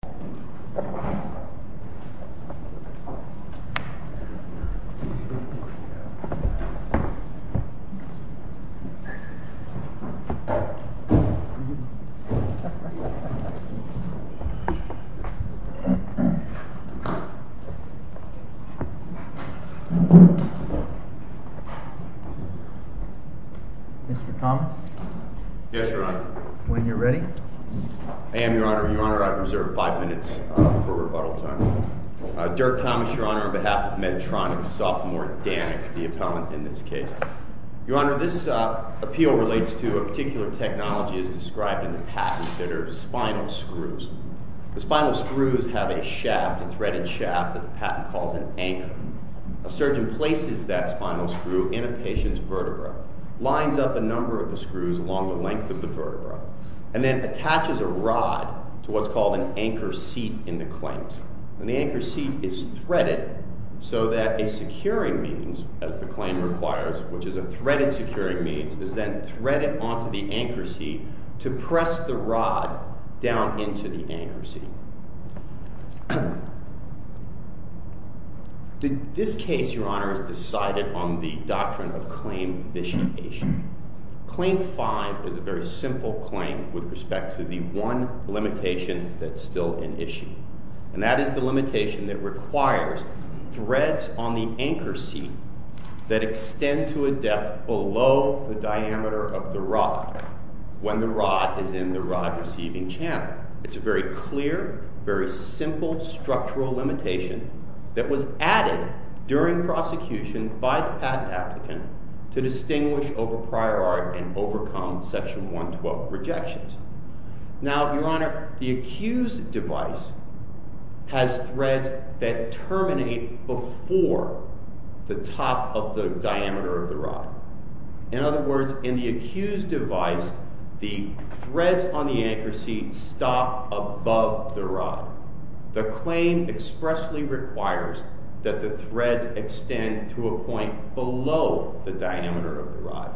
Mr. Thomas? Yes, Your Honor. When you're ready. I am, Your Honor. Your Honor, I reserve five minutes for rebuttal time. Dirk Thomas, Your Honor. On behalf of Medtronic, Sophomore Danik, the appellant in this case. Your Honor, this appeal relates to a particular technology as described in the patent that are spinal screws. The spinal screws have a shaft, a threaded shaft that the patent calls an anchor. A surgeon places that spinal screw in a patient's vertebra, lines up a number of the screws along the length of the vertebra, and then attaches a rod to what's called an anchor seat in the claims. And the anchor seat is threaded so that a securing means, as the claim requires, which is a threaded securing means, is then threaded onto the anchor seat to press the rod down into the anchor seat. This case, Your Honor, is decided on the doctrine of claim vitiation. Claim five is a very simple claim with respect to the one limitation that's still in issue. And that is the limitation that requires threads on the anchor seat that extend to a depth below the diameter of the rod when the rod is in the rod receiving channel. It's a very clear, very simple structural limitation that was added during prosecution by the patent applicant to distinguish over prior art and overcome Section 112 rejections. Now, Your Honor, the accused device has threads that terminate before the top of the diameter of the rod. In other words, in the accused device, the threads on the anchor seat stop above the rod. The claim expressly requires that the threads extend to a point below the diameter of the rod.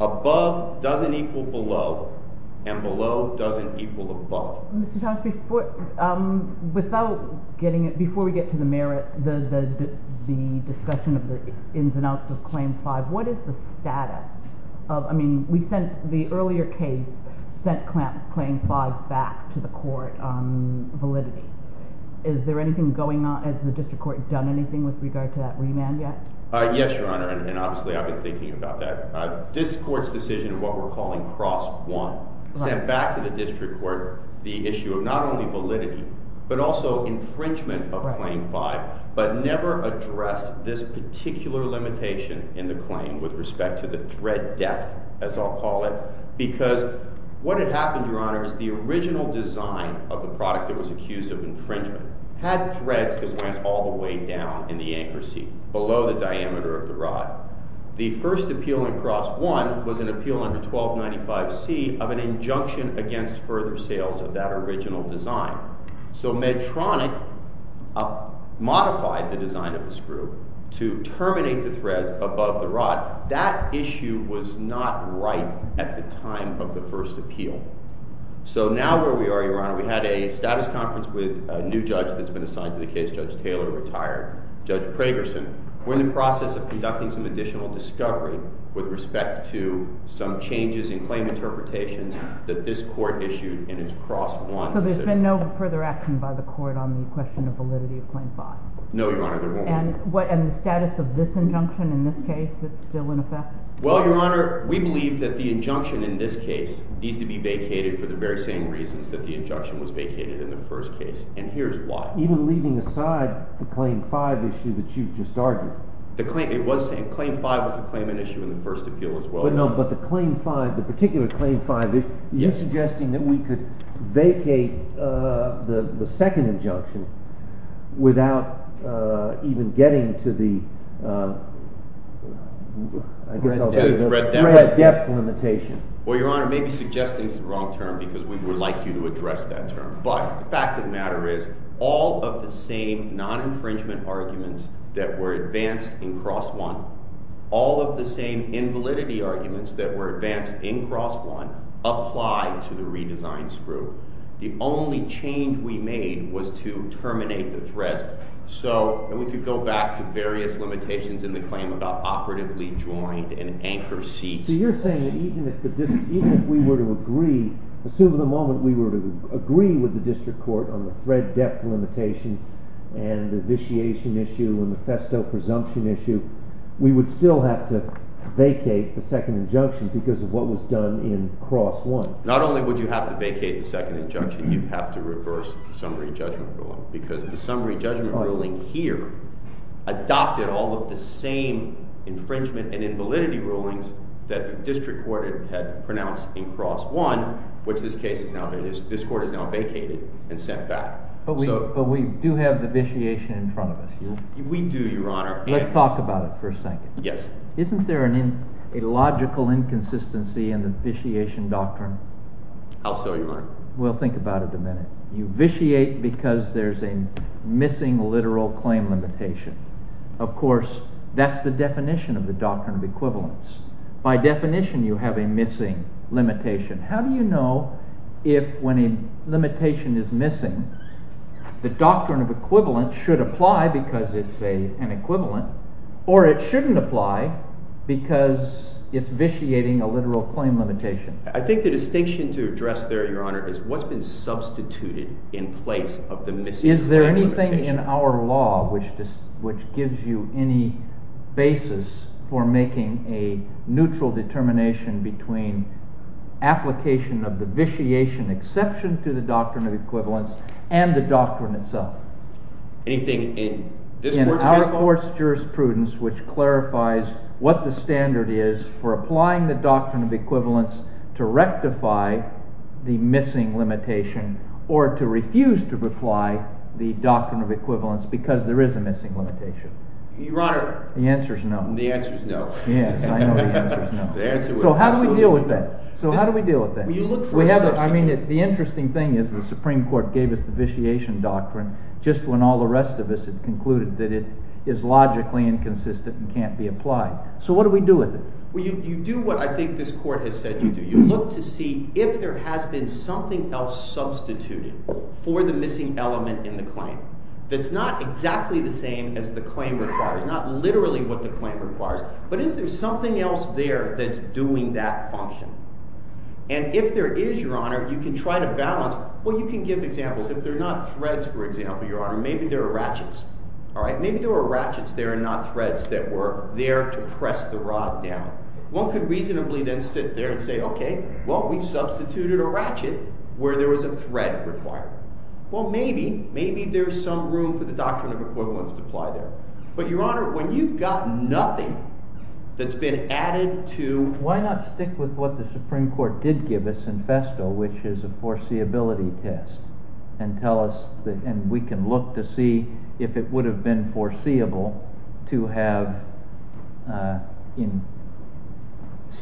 Above doesn't equal below, and below doesn't equal above. Mr. Thomas, before we get to the merit, the discussion of the ins and outs of claim five, what is the status of, I mean, we sent, the earlier case sent claim five back to the court on validity. Is there anything going on, has the district court done anything with regard to that remand yet? Yes, Your Honor, and obviously I've been thinking about that. This court's decision, what we're calling cross one, sent back to the district court the issue of not only validity, but also infringement of claim five, but never addressed this particular limitation in the claim with respect to the thread depth, as I'll call it, because what had happened, Your Honor, is the original design of the product that was accused of infringement had threads that went all the way down in the anchor seat, below the diameter of the rod. The first appeal in cross one was an appeal under 1295C of an injunction against further sales of that original design. So Medtronic modified the design of the screw to terminate the threads above the rod. That issue was not right at the time of the first appeal. So now where we are, Your Honor, we had a status conference with a new judge that's been assigned to the case, Judge Taylor, retired, Judge Pragerson. We're in the process of conducting some additional discovery with respect to some changes in claim interpretations that this court issued in its cross one decision. There's been no further action by the court on the question of validity of claim five? No, Your Honor, there won't be. And the status of this injunction in this case is still in effect? Well, Your Honor, we believe that the injunction in this case needs to be vacated for the very same reasons that the injunction was vacated in the first case, and here's why. Even leaving aside the claim five issue that you just argued? It was the same. Claim five was a claimant issue in the first appeal as well. No, but the claim five, the particular claim five, you're suggesting that we could vacate the second injunction without even getting to the red-depth limitation? Well, Your Honor, maybe suggesting is the wrong term because we would like you to address that term. But the fact of the matter is all of the same non-infringement arguments that were advanced in cross one, all of the same invalidity arguments that were advanced in cross one apply to the redesign screw. The only change we made was to terminate the threads. So we could go back to various limitations in the claim about operatively joined and anchor seats. So you're saying that even if we were to agree, assume at the moment we were to agree with the district court on the thread-depth limitation and the vitiation issue and the festo presumption issue, we would still have to vacate the second injunction because of what was done in cross one? Not only would you have to vacate the second injunction, you'd have to reverse the summary judgment ruling because the summary judgment ruling here adopted all of the same infringement and invalidity rulings that the district court had pronounced in cross one, which this court has now vacated and sent back. But we do have the vitiation in front of us here? We do, Your Honor. Let's talk about it for a second. Yes. Isn't there a logical inconsistency in the vitiation doctrine? How so, Your Honor? We'll think about it in a minute. You vitiate because there's a missing literal claim limitation. Of course, that's the definition of the doctrine of equivalence. By definition, you have a missing limitation. How do you know if when a limitation is missing, the doctrine of equivalence should apply because it's an equivalent or it shouldn't apply because it's vitiating a literal claim limitation? I think the distinction to address there, Your Honor, is what's been substituted in place of the missing claim limitation. Anything in our law which gives you any basis for making a neutral determination between application of the vitiation exception to the doctrine of equivalence and the doctrine itself? Anything in this court's case? In our court's jurisprudence which clarifies what the standard is for applying the doctrine of equivalence to rectify the missing limitation or to refuse to apply the doctrine of equivalence because there is a missing limitation? Your Honor. The answer's no. The answer's no. Yes, I know the answer's no. The answer was absolutely no. So how do we deal with that? So how do we deal with that? Well, you look for a substitute. I mean, the interesting thing is the Supreme Court gave us the vitiation doctrine just when all the rest of us had concluded that it is logically inconsistent and can't be applied. So what do we do with it? Well, you do what I think this court has said you do. You look to see if there has been something else substituted for the missing element in the claim that's not exactly the same as the claim requires, not literally what the claim requires, but is there something else there that's doing that function? And if there is, Your Honor, you can try to balance. Well, you can give examples. If there are not threads, for example, Your Honor, maybe there are ratchets. All right? One could reasonably then sit there and say, OK, well, we've substituted a ratchet where there was a thread required. Well, maybe, maybe there's some room for the doctrine of equivalence to apply there. But, Your Honor, when you've got nothing that's been added to— Why not stick with what the Supreme Court did give us in Festo, which is a foreseeability test, and we can look to see if it would have been foreseeable to have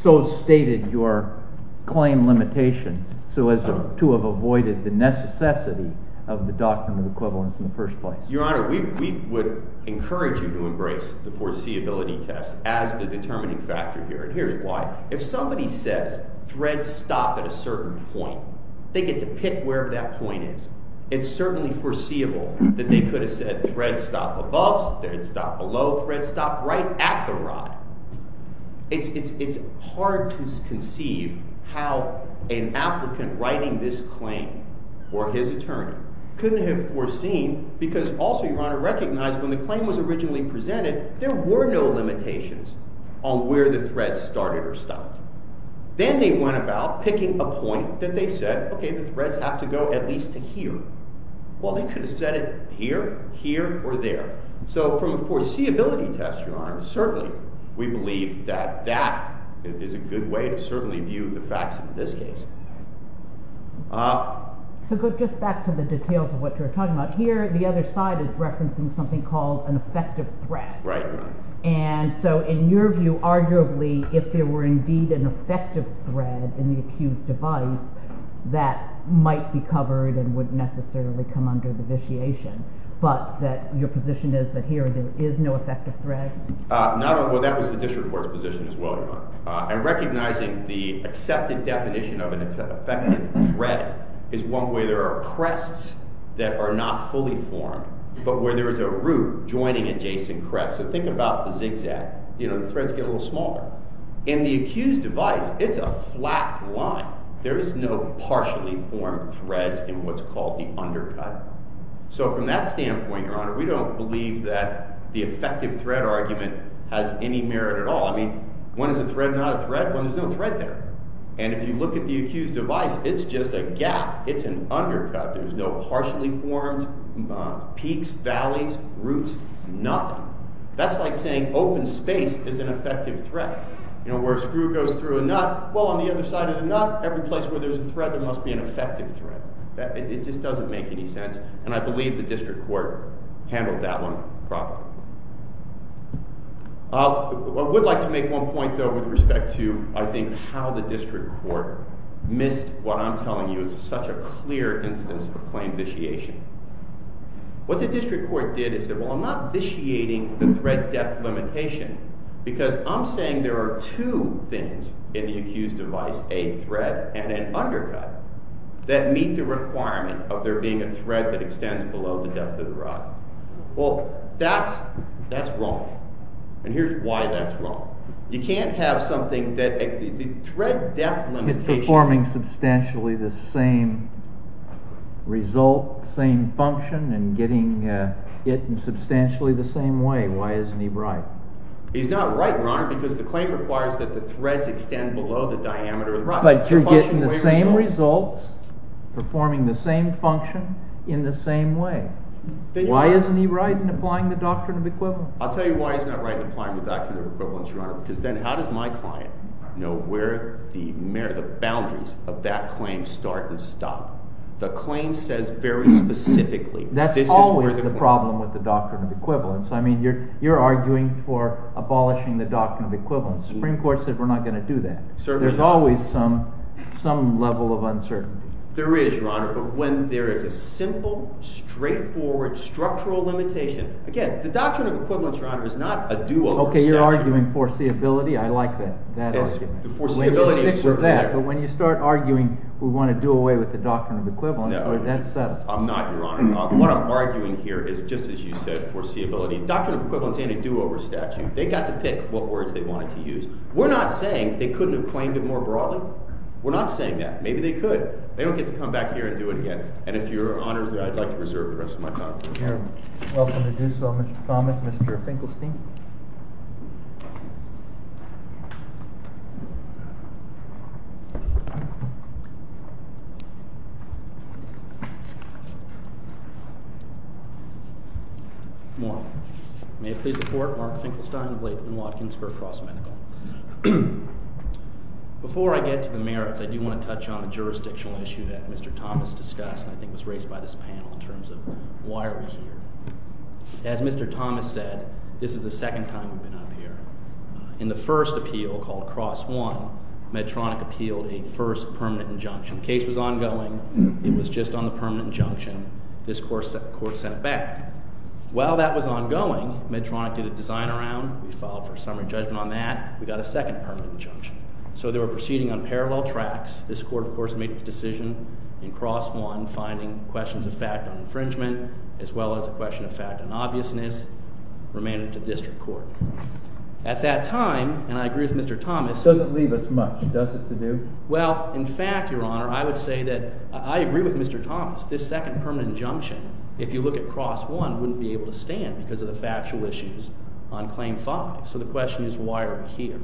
so stated your claim limitation so as to have avoided the necessity of the doctrine of equivalence in the first place? Your Honor, we would encourage you to embrace the foreseeability test as the determining factor here. And here's why. If somebody says threads stop at a certain point, they get to pick wherever that point is. It's certainly foreseeable that they could have said threads stop above, threads stop below, threads stop right at the rod. It's hard to conceive how an applicant writing this claim for his attorney couldn't have foreseen, because also, Your Honor, recognize when the claim was originally presented, there were no limitations on where the threads started or stopped. Then they went about picking a point that they said, OK, the threads have to go at least to here. Well, they could have said it here, here, or there. So from a foreseeability test, Your Honor, certainly we believe that that is a good way to certainly view the facts in this case. So just back to the details of what you were talking about. Here, the other side is referencing something called an effective thread. Right. And so in your view, arguably, if there were indeed an effective thread in the accused's device, that might be covered and wouldn't necessarily come under the vitiation. But your position is that here, there is no effective thread? Well, that was the district court's position as well, Your Honor. And recognizing the accepted definition of an effective thread is one where there are crests that are not fully formed, but where there is a root joining adjacent crests. So think about the zigzag. You know, the threads get a little smaller. In the accused's device, it's a flat line. There is no partially formed thread in what's called the undercut. So from that standpoint, Your Honor, we don't believe that the effective thread argument has any merit at all. I mean, when is a thread not a thread? Well, there's no thread there. And if you look at the accused's device, it's just a gap. It's an undercut. There's no partially formed peaks, valleys, roots, nothing. That's like saying open space is an effective thread. You know, where a screw goes through a nut, well, on the other side of the nut, every place where there's a thread, there must be an effective thread. It just doesn't make any sense. And I believe the district court handled that one properly. I would like to make one point, though, with respect to, I think, how the district court missed what I'm telling you is such a clear instance of plain vitiation. What the district court did is say, well, I'm not vitiating the thread depth limitation because I'm saying there are two things in the accused's device, a thread and an undercut, that meet the requirement of there being a thread that extends below the depth of the rod. Well, that's wrong. And here's why that's wrong. You can't have something that—the thread depth limitation— It's performing substantially the same result, same function, and getting it in substantially the same way. Why isn't he right? He's not right, Your Honor, because the claim requires that the threads extend below the diameter of the rod. But you're getting the same results, performing the same function in the same way. Why isn't he right in applying the doctrine of equivalence? I'll tell you why he's not right in applying the doctrine of equivalence, Your Honor, because then how does my client know where the boundaries of that claim start and stop? The claim says very specifically, this is where the claim— That's always the problem with the doctrine of equivalence. I mean, you're arguing for abolishing the doctrine of equivalence. The Supreme Court said we're not going to do that. There's always some level of uncertainty. There is, Your Honor, but when there is a simple, straightforward, structural limitation— Again, the doctrine of equivalence, Your Honor, is not a do-over statute. Okay, you're arguing foreseeability. I like that argument. The foreseeability is certainly there. But when you start arguing we want to do away with the doctrine of equivalence— No, I'm not, Your Honor. What I'm arguing here is, just as you said, foreseeability. The doctrine of equivalence and a do-over statute, they got to pick what words they wanted to use. We're not saying they couldn't have claimed it more broadly. We're not saying that. Maybe they could. They don't get to come back here and do it again. And if Your Honor is there, I'd like to reserve the rest of my time. You're welcome to do so, Mr. Thomas. Mr. Finkelstein? Good morning. May it please the Court, Mark Finkelstein of Lakeland Watkinsburg Cross Medical. Before I get to the merits, I do want to touch on a jurisdictional issue that Mr. Thomas discussed and I think was raised by this panel in terms of why are we here. As Mr. Thomas said, this is the second time we've been up here. In the first appeal called Cross I, Medtronic appealed a first permanent injunction. The case was ongoing. It was just on the permanent injunction. This court sent it back. While that was ongoing, Medtronic did a design around. We filed for a summary judgment on that. We got a second permanent injunction. So they were proceeding on parallel tracks. This court, of course, made its decision in Cross I, finding questions of fact on infringement as well as a question of fact on obviousness. Remaining to district court. At that time, and I agree with Mr. Thomas It doesn't leave us much, does it, to do? Well, in fact, Your Honor, I would say that I agree with Mr. Thomas. This second permanent injunction, if you look at Cross I, Medtronic wouldn't be able to stand because of the factual issues on Claim 5. So the question is, why are we here?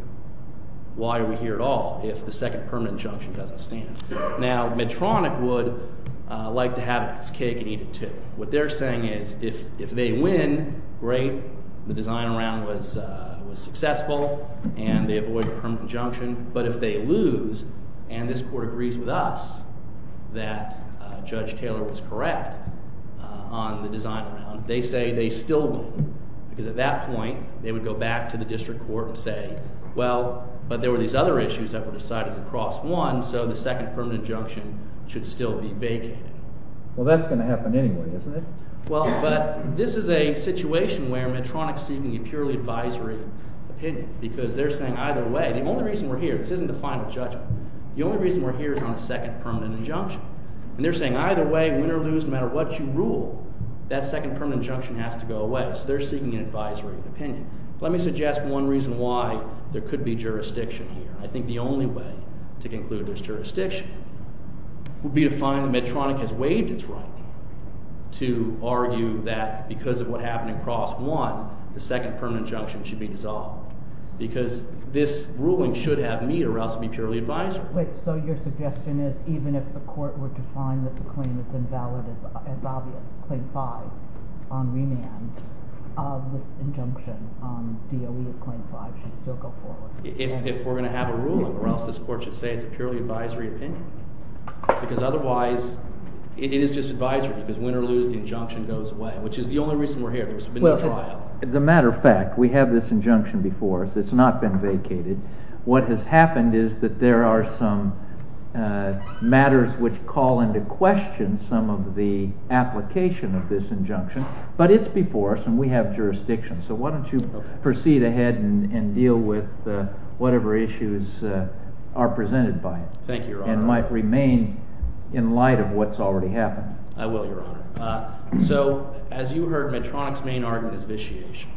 Why are we here at all if the second permanent injunction doesn't stand? Now, Medtronic would like to have its cake and eat it too. What they're saying is, if they win, great. The design around was successful, and they avoid a permanent injunction. But if they lose, and this court agrees with us that Judge Taylor was correct on the design around, they say they still win. Because at that point, they would go back to the district court and say, well, but there were these other issues that were decided in Cross I, so the second permanent injunction should still be vacated. Well, that's going to happen anyway, isn't it? Well, but this is a situation where Medtronic's seeking a purely advisory opinion. Because they're saying either way. The only reason we're here, this isn't the final judgment, the only reason we're here is on the second permanent injunction. And they're saying either way, win or lose, no matter what you rule, that second permanent injunction has to go away. So they're seeking an advisory opinion. Let me suggest one reason why there could be jurisdiction here. I think the only way to conclude there's jurisdiction would be to find that Medtronic has waived its right to argue that because of what happened in Cross I, the second permanent injunction should be dissolved. Because this ruling should have Medt or else it would be purely advisory. Wait, so your suggestion is even if the court were to find that the claim is invalid as obvious, Claim 5 on remand, this injunction on DOE of Claim 5 should still go forward? If we're going to have a ruling or else this court should say it's a purely advisory opinion. Because otherwise, it is just advisory. Because win or lose, the injunction goes away, which is the only reason we're here. There's been no trial. As a matter of fact, we have this injunction before us. It's not been vacated. What has happened is that there are some matters which call into question some of the application of this injunction. But it's before us, and we have jurisdiction. So why don't you proceed ahead and deal with whatever issues are presented by it. Thank you, Your Honor. And might remain in light of what's already happened. I will, Your Honor. So as you heard, Medtronic's main argument is vitiation.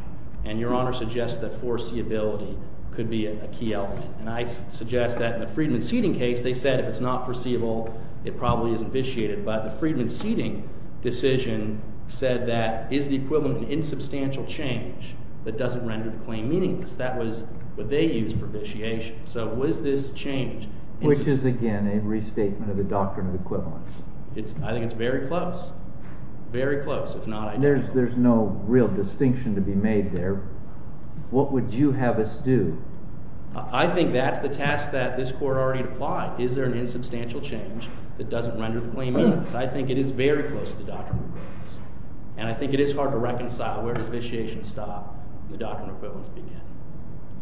And Your Honor suggests that foreseeability could be a key element. And I suggest that in the Friedman-Seeding case, they said if it's not foreseeable, it probably isn't vitiated. But the Friedman-Seeding decision said that is the equivalent an insubstantial change that doesn't render the claim meaningless? That was what they used for vitiation. So was this change insubstantial? Which is, again, a restatement of the doctrine of equivalence. I think it's very close. Very close. If not, I don't know. There's no real distinction to be made there. What would you have us do? I think that's the task that this Court already applied. Is there an insubstantial change that doesn't render the claim meaningless? I think it is very close to the doctrine of equivalence. And I think it is hard to reconcile where does vitiation stop and the doctrine of equivalence begin.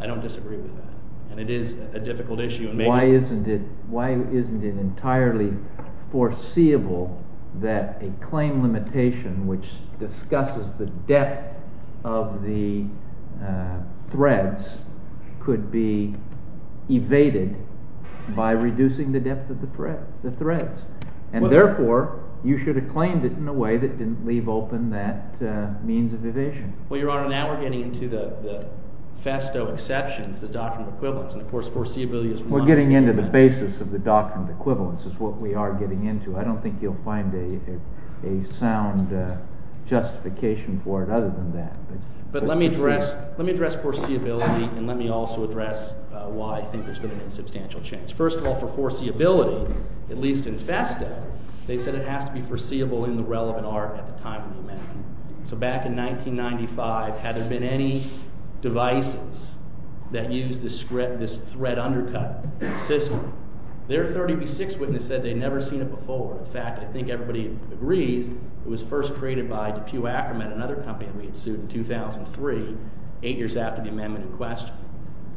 I don't disagree with that. And it is a difficult issue. Why isn't it entirely foreseeable that a claim limitation which discusses the depth of the threads could be evaded by reducing the depth of the threads? And therefore, you should have claimed it in a way that didn't leave open that means of evasion. Well, Your Honor, now we're getting into the festo exceptions, the doctrine of equivalence. We're getting into the basis of the doctrine of equivalence is what we are getting into. I don't think you'll find a sound justification for it other than that. But let me address foreseeability, and let me also address why I think there's been an insubstantial change. First of all, for foreseeability, at least in festo, they said it has to be foreseeable in the relevant art at the time of the amendment. So back in 1995, had there been any devices that used this thread undercut system, their 36th witness said they'd never seen it before. In fact, I think everybody agrees it was first created by DePue-Ackerman, another company that we had sued in 2003, eight years after the amendment in question.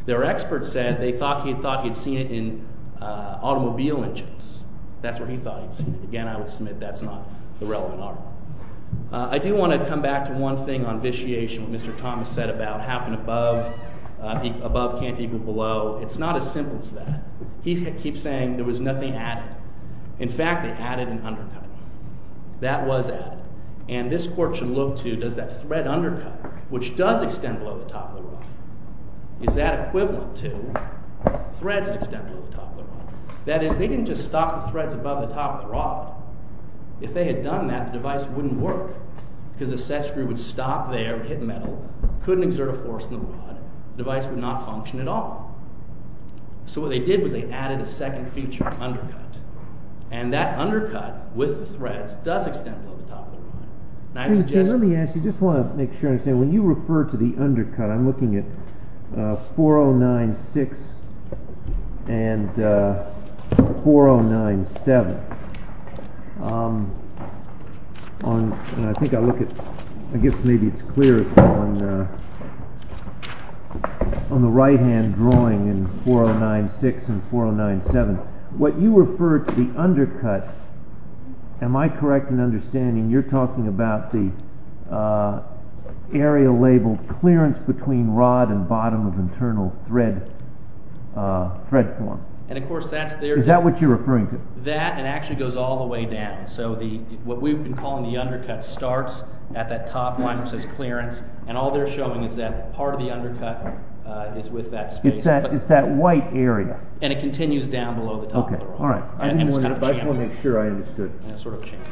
Their expert said they thought he'd thought he'd seen it in automobile engines. That's where he thought he'd seen it. Again, I would submit that's not the relevant art. I do want to come back to one thing on vitiation, what Mr. Thomas said about how can above can't equal below. It's not as simple as that. He keeps saying there was nothing added. In fact, they added an undercut. That was added. And this court should look to does that thread undercut, which does extend below the top of the rod, is that equivalent to threads that extend below the top of the rod? That is, they didn't just stop the threads above the top of the rod. If they had done that, the device wouldn't work because the set screw would stop there, hit metal, couldn't exert a force on the rod. The device would not function at all. So what they did was they added a second feature, undercut. And that undercut with the threads does extend below the top of the rod. And I suggest- Let me ask you, I just want to make sure I understand. When you refer to the undercut, I'm looking at 4096 and 4097. And I think I look at, I guess maybe it's clearer, on the right-hand drawing in 4096 and 4097. What you refer to the undercut, am I correct in understanding you're talking about the area labeled clearance between rod and bottom of internal thread form? Is that what you're referring to? That, and it actually goes all the way down. So what we've been calling the undercut starts at that top line that says clearance. And all they're showing is that part of the undercut is with that space. It's that white area. And it continues down below the top of the rod. Okay, all right. And it's kind of a chamfer. I just want to make sure I understood. And it's sort of a chamfer.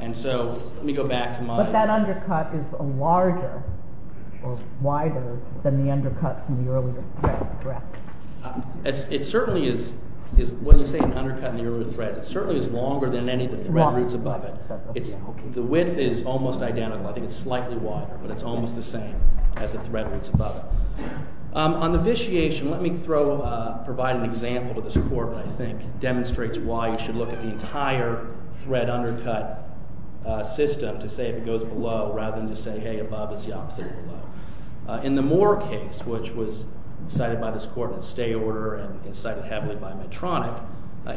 And so, let me go back to my- But that undercut is larger or wider than the undercut from the earlier thread, correct? It certainly is, when you say an undercut in the earlier thread, it certainly is longer than any of the thread roots above it. The width is almost identical. I think it's slightly wider, but it's almost the same as the thread roots above it. On the vitiation, let me provide an example to this court that I think demonstrates why you should look at the entire thread undercut system to say if it goes below rather than to say, hey, above is the opposite of below. In the Moore case, which was cited by this court in a stay order and cited heavily by Medtronic,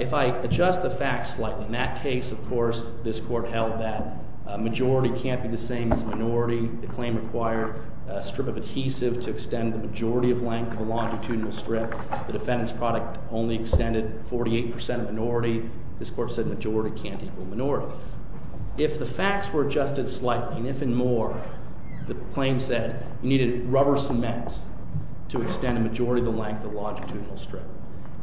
if I adjust the facts slightly, in that case, of course, this court held that majority can't be the same as minority. The claim required a strip of adhesive to extend the majority of length of a longitudinal strip. The defendant's product only extended 48% of minority. This court said majority can't equal minority. If the facts were adjusted slightly, and if in Moore, the claim said you needed rubber cement to extend the majority of the length of the longitudinal strip,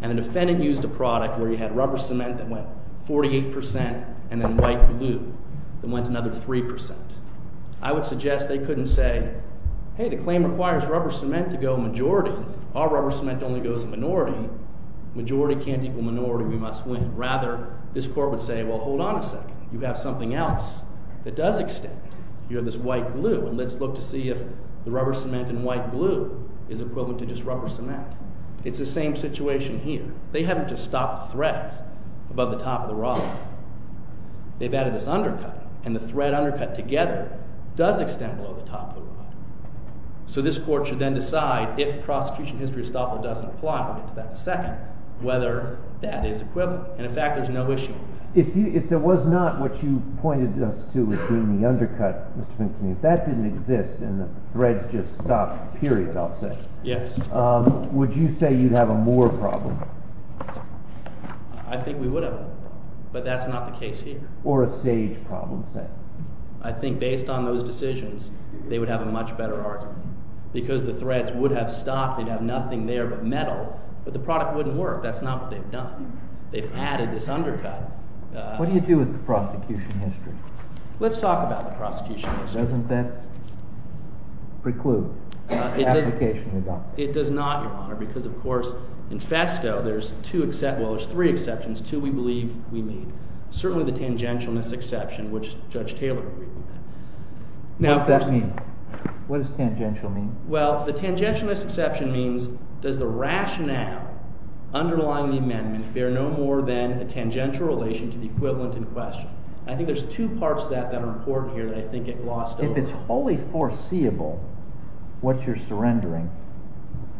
and the defendant used a product where you had rubber cement that went 48% and then white glue that went another 3%, I would suggest they couldn't say, hey, the claim requires rubber cement to go majority. All rubber cement only goes to minority. Majority can't equal minority. We must win. Rather, this court would say, well, hold on a second. You have something else that does extend. You have this white glue, and let's look to see if the rubber cement and white glue is equivalent to just rubber cement. It's the same situation here. They haven't just stopped the threads above the top of the rod. They've added this undercut, and the thread undercut together does extend below the top of the rod. So this court should then decide, if prosecution history estoppel doesn't apply, and we'll get to that in a second, whether that is equivalent. And in fact, there's no issue with that. If there was not what you pointed us to as being the undercut, Mr. Finkelman, if that didn't exist and the threads just stopped, period, I'll say, would you say you'd have a more problem? I think we would have, but that's not the case here. Or a sage problem, say. I think based on those decisions, they would have a much better argument because the threads would have stopped. They'd have nothing there but metal, but the product wouldn't work. That's not what they've done. They've added this undercut. What do you do with the prosecution history? Let's talk about the prosecution history. Doesn't that preclude the application result? It does not, Your Honor, because of course, infesto, there's two exceptions. Well, there's three exceptions, two we believe we need. Certainly the tangentialness exception, which Judge Taylor agreed to. What does that mean? What does tangential mean? Well, the tangentialness exception means does the rationale underlying the amendment bear no more than a tangential relation to the equivalent in question? I think there's two parts to that that are important here that I think get glossed over. If it's fully foreseeable what you're surrendering,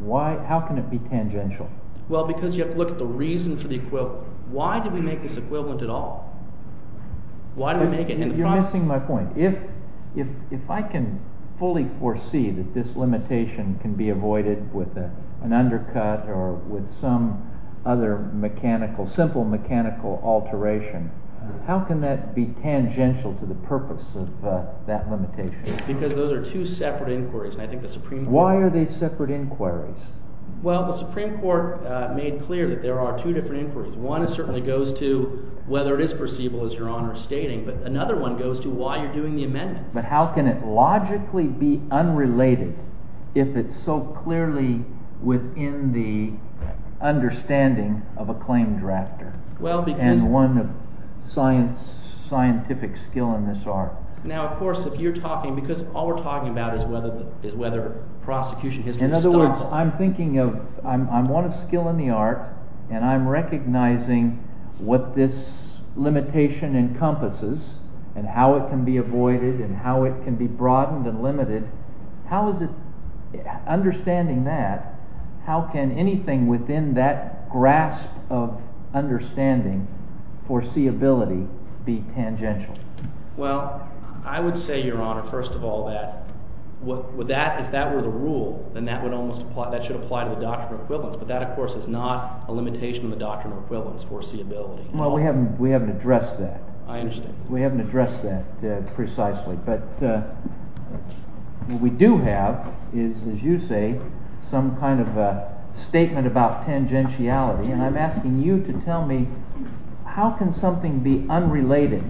how can it be tangential? Well, because you have to look at the reason for the equivalent. Why did we make this equivalent at all? Why did we make it in the process? You're missing my point. If I can fully foresee that this limitation can be avoided with an undercut or with some other mechanical, simple mechanical alteration, how can that be tangential to the purpose of that limitation? Because those are two separate inquiries. Why are they separate inquiries? Well, the Supreme Court made clear that there are two different inquiries. One certainly goes to whether it is foreseeable, as Your Honor is stating. But another one goes to why you're doing the amendment. But how can it logically be unrelated if it's so clearly within the understanding of a claim drafter and one of scientific skill in this art? Now, of course, if you're talking, because all we're talking about is whether prosecution history is thoughtful. In other words, I'm thinking of, I'm one of skill in the art, and I'm recognizing what this limitation encompasses and how it can be avoided and how it can be broadened and limited. Understanding that, how can anything within that grasp of understanding foreseeability be tangential? Well, I would say, Your Honor, first of all, that if that were the rule, then that should apply to the doctrine of equivalence. But that, of course, is not a limitation of the doctrine of equivalence, foreseeability. Well, we haven't addressed that. I understand. We haven't addressed that precisely. But what we do have is, as you say, some kind of a statement about tangentiality. And I'm asking you to tell me, how can something be unrelated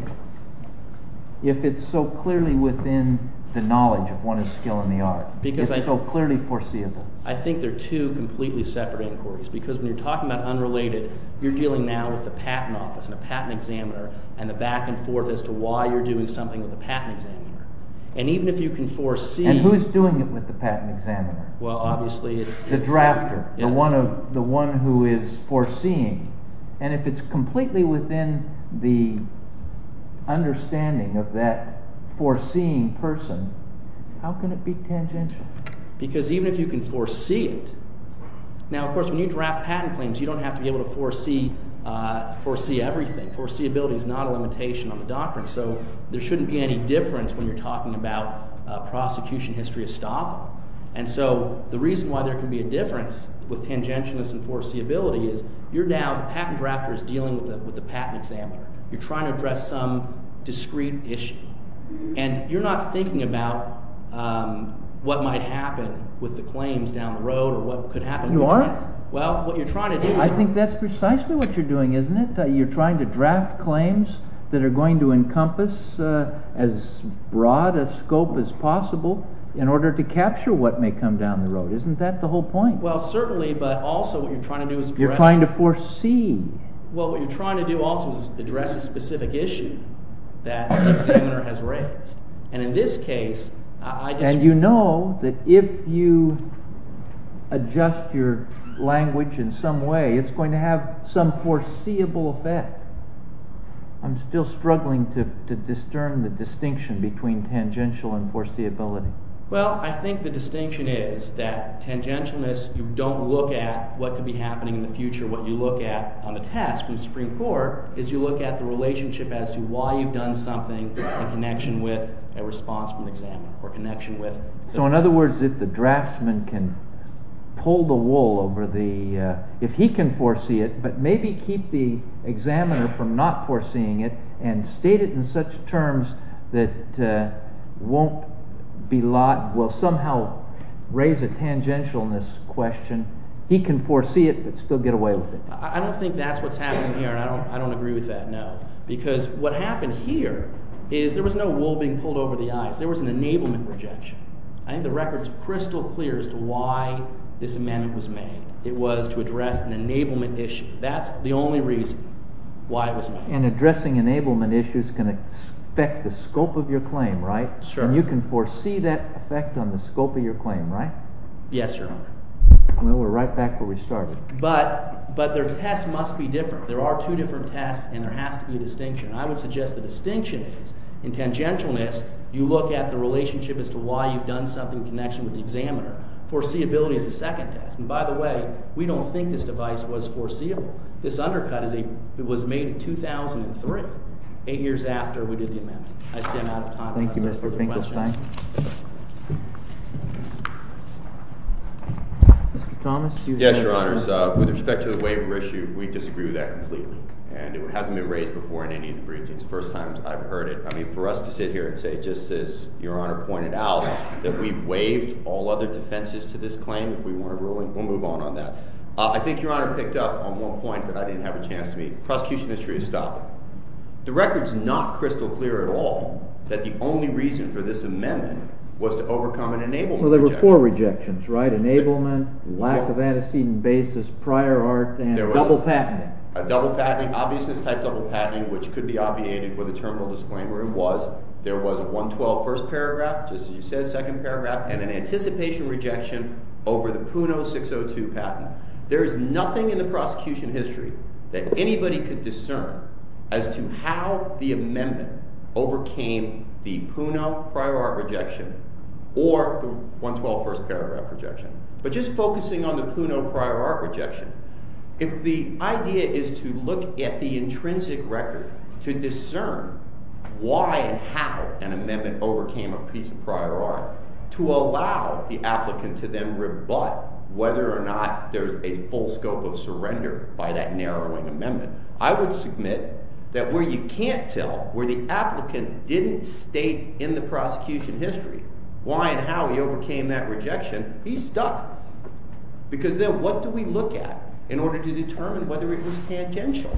if it's so clearly within the knowledge of one of skill in the art? It's so clearly foreseeable. I think they're two completely separate inquiries. Because when you're talking about unrelated, you're dealing now with the patent office and a patent examiner and the back and forth as to why you're doing something with the patent examiner. And even if you can foresee— And who's doing it with the patent examiner? Well, obviously, it's— The drafter. Yes. The one who is foreseeing. And if it's completely within the understanding of that foreseeing person, how can it be tangential? Because even if you can foresee it— Now, of course, when you draft patent claims, you don't have to be able to foresee everything. Foreseeability is not a limitation on the doctrine. So there shouldn't be any difference when you're talking about prosecution history of stop. And so the reason why there can be a difference with tangentialness and foreseeability is you're now—the patent drafter is dealing with the patent examiner. You're trying to address some discrete issue. And you're not thinking about what might happen with the claims down the road or what You aren't? Well, what you're trying to do— I think that's precisely what you're doing, isn't it? You're trying to draft claims that are going to encompass as broad a scope as possible in order to capture what may come down the road. Isn't that the whole point? Well, certainly, but also what you're trying to do is— You're trying to foresee. Well, what you're trying to do also is address a specific issue that the examiner has raised. And in this case, I just— And you know that if you adjust your language in some way, it's going to have some foreseeable effect. I'm still struggling to discern the distinction between tangential and foreseeability. Well, I think the distinction is that tangentialness, you don't look at what could be happening in the future. What you look at on the task of the Supreme Court is you look at the relationship as to why you've done something in connection with a response from the examiner or connection with— So in other words, if the draftsman can pull the wool over the— if he can foresee it, but maybe keep the examiner from not foreseeing it and state it in such terms that won't be—will somehow raise a tangentialness question, he can foresee it but still get away with it. I don't think that's what's happening here, and I don't agree with that, no. Because what happened here is there was no wool being pulled over the eyes. There was an enablement rejection. I think the record is crystal clear as to why this amendment was made. It was to address an enablement issue. That's the only reason why it was made. And addressing enablement issues can affect the scope of your claim, right? Sure. And you can foresee that effect on the scope of your claim, right? Yes, Your Honor. Well, we're right back where we started. But their test must be different. There are two different tests, and there has to be a distinction. I would suggest the distinction is in tangentialness you look at the relationship as to why you've done something in connection with the examiner. Foreseeability is the second test. And by the way, we don't think this device was foreseeable. This undercut was made in 2003, eight years after we did the amendment. I see I'm out of time. Thank you, Mr. Finkelstein. Mr. Thomas? Yes, Your Honors. With respect to the waiver issue, we disagree with that completely. And it hasn't been raised before in any of the briefings. First time I've heard it. I mean, for us to sit here and say, just as Your Honor pointed out, that we've waived all other defenses to this claim if we want to rule it, we'll move on on that. I think Your Honor picked up on one point that I didn't have a chance to make. Prosecution history is stopping. The record's not crystal clear at all that the only reason for this amendment was to overcome an enablement rejection. Well, there were four rejections, right? Enablement, lack of antecedent basis, prior art, and double patenting. A double patenting, obviousness-type double patenting, which could be obviated with a terminal disclaimer. It was there was a 112 first paragraph, just as you said, second paragraph, and an anticipation rejection over the PUNO 602 patent. There is nothing in the prosecution history that anybody could discern as to how the amendment overcame the PUNO prior art rejection or the 112 first paragraph rejection. But just focusing on the PUNO prior art rejection, if the idea is to look at the intrinsic record to discern why and how an amendment overcame a piece of prior art to allow the applicant to then rebut whether or not there's a full scope of surrender by that narrowing amendment, I would submit that where you can't tell, where the applicant didn't state in the prosecution history why and how he overcame that rejection, he's stuck. Because then what do we look at in order to determine whether it was tangential?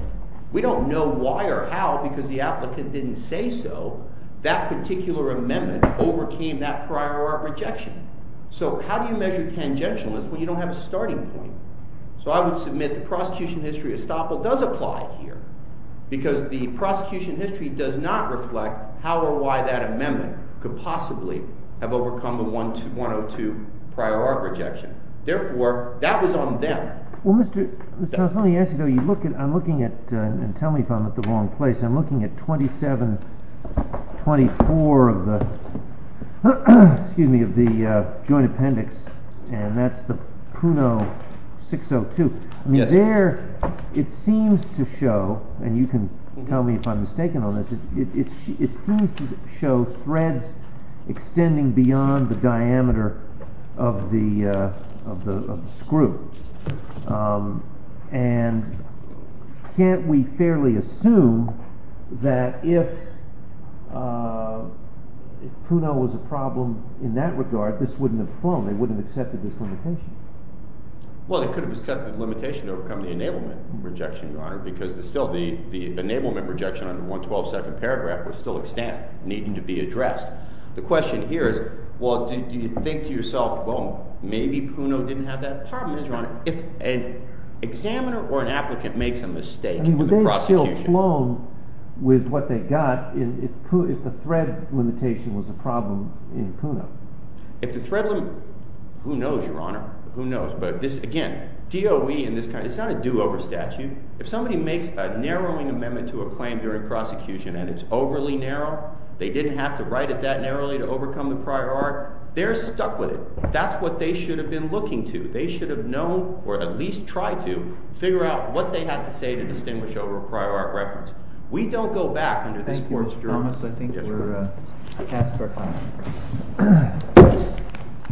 We don't know why or how because the applicant didn't say so that particular amendment overcame that prior art rejection. So how do you measure tangentialness when you don't have a starting point? So I would submit the prosecution history estoppel does apply here because the prosecution history does not reflect how or why that amendment could possibly have overcome the 102 prior art rejection. Therefore, that was on them. Well, Mr. Charles, let me ask you though, I'm looking at, and tell me if I'm at the wrong place, I'm looking at 2724 of the, excuse me, of the joint appendix, and that's the PUNO 602. It seems to show, and you can tell me if I'm mistaken on this, it seems to show threads extending beyond the diameter of the screw. And can't we fairly assume that if PUNO was a problem in that regard, this wouldn't have flown, they wouldn't have accepted this limitation? Well, they could have accepted the limitation to overcome the enablement rejection, Your Honor, because still the enablement rejection under 112nd paragraph would still extend, needing to be addressed. The question here is, well, do you think to yourself, well, maybe PUNO didn't have that problem, Your Honor. If an examiner or an applicant makes a mistake in the prosecution. I mean, would they have still flown with what they got if the thread limitation was a problem in PUNO? If the thread limitation, who knows, Your Honor, who knows. But this, again, DOE and this kind of, it's not a do-over statute. If somebody makes a narrowing amendment to a claim during prosecution and it's overly narrow, they didn't have to write it that narrowly to overcome the prior art, they're stuck with it. That's what they should have been looking to. They should have known, or at least tried to, figure out what they had to say to distinguish over a prior art reference. We don't go back under this court's promise. I think we're past our time.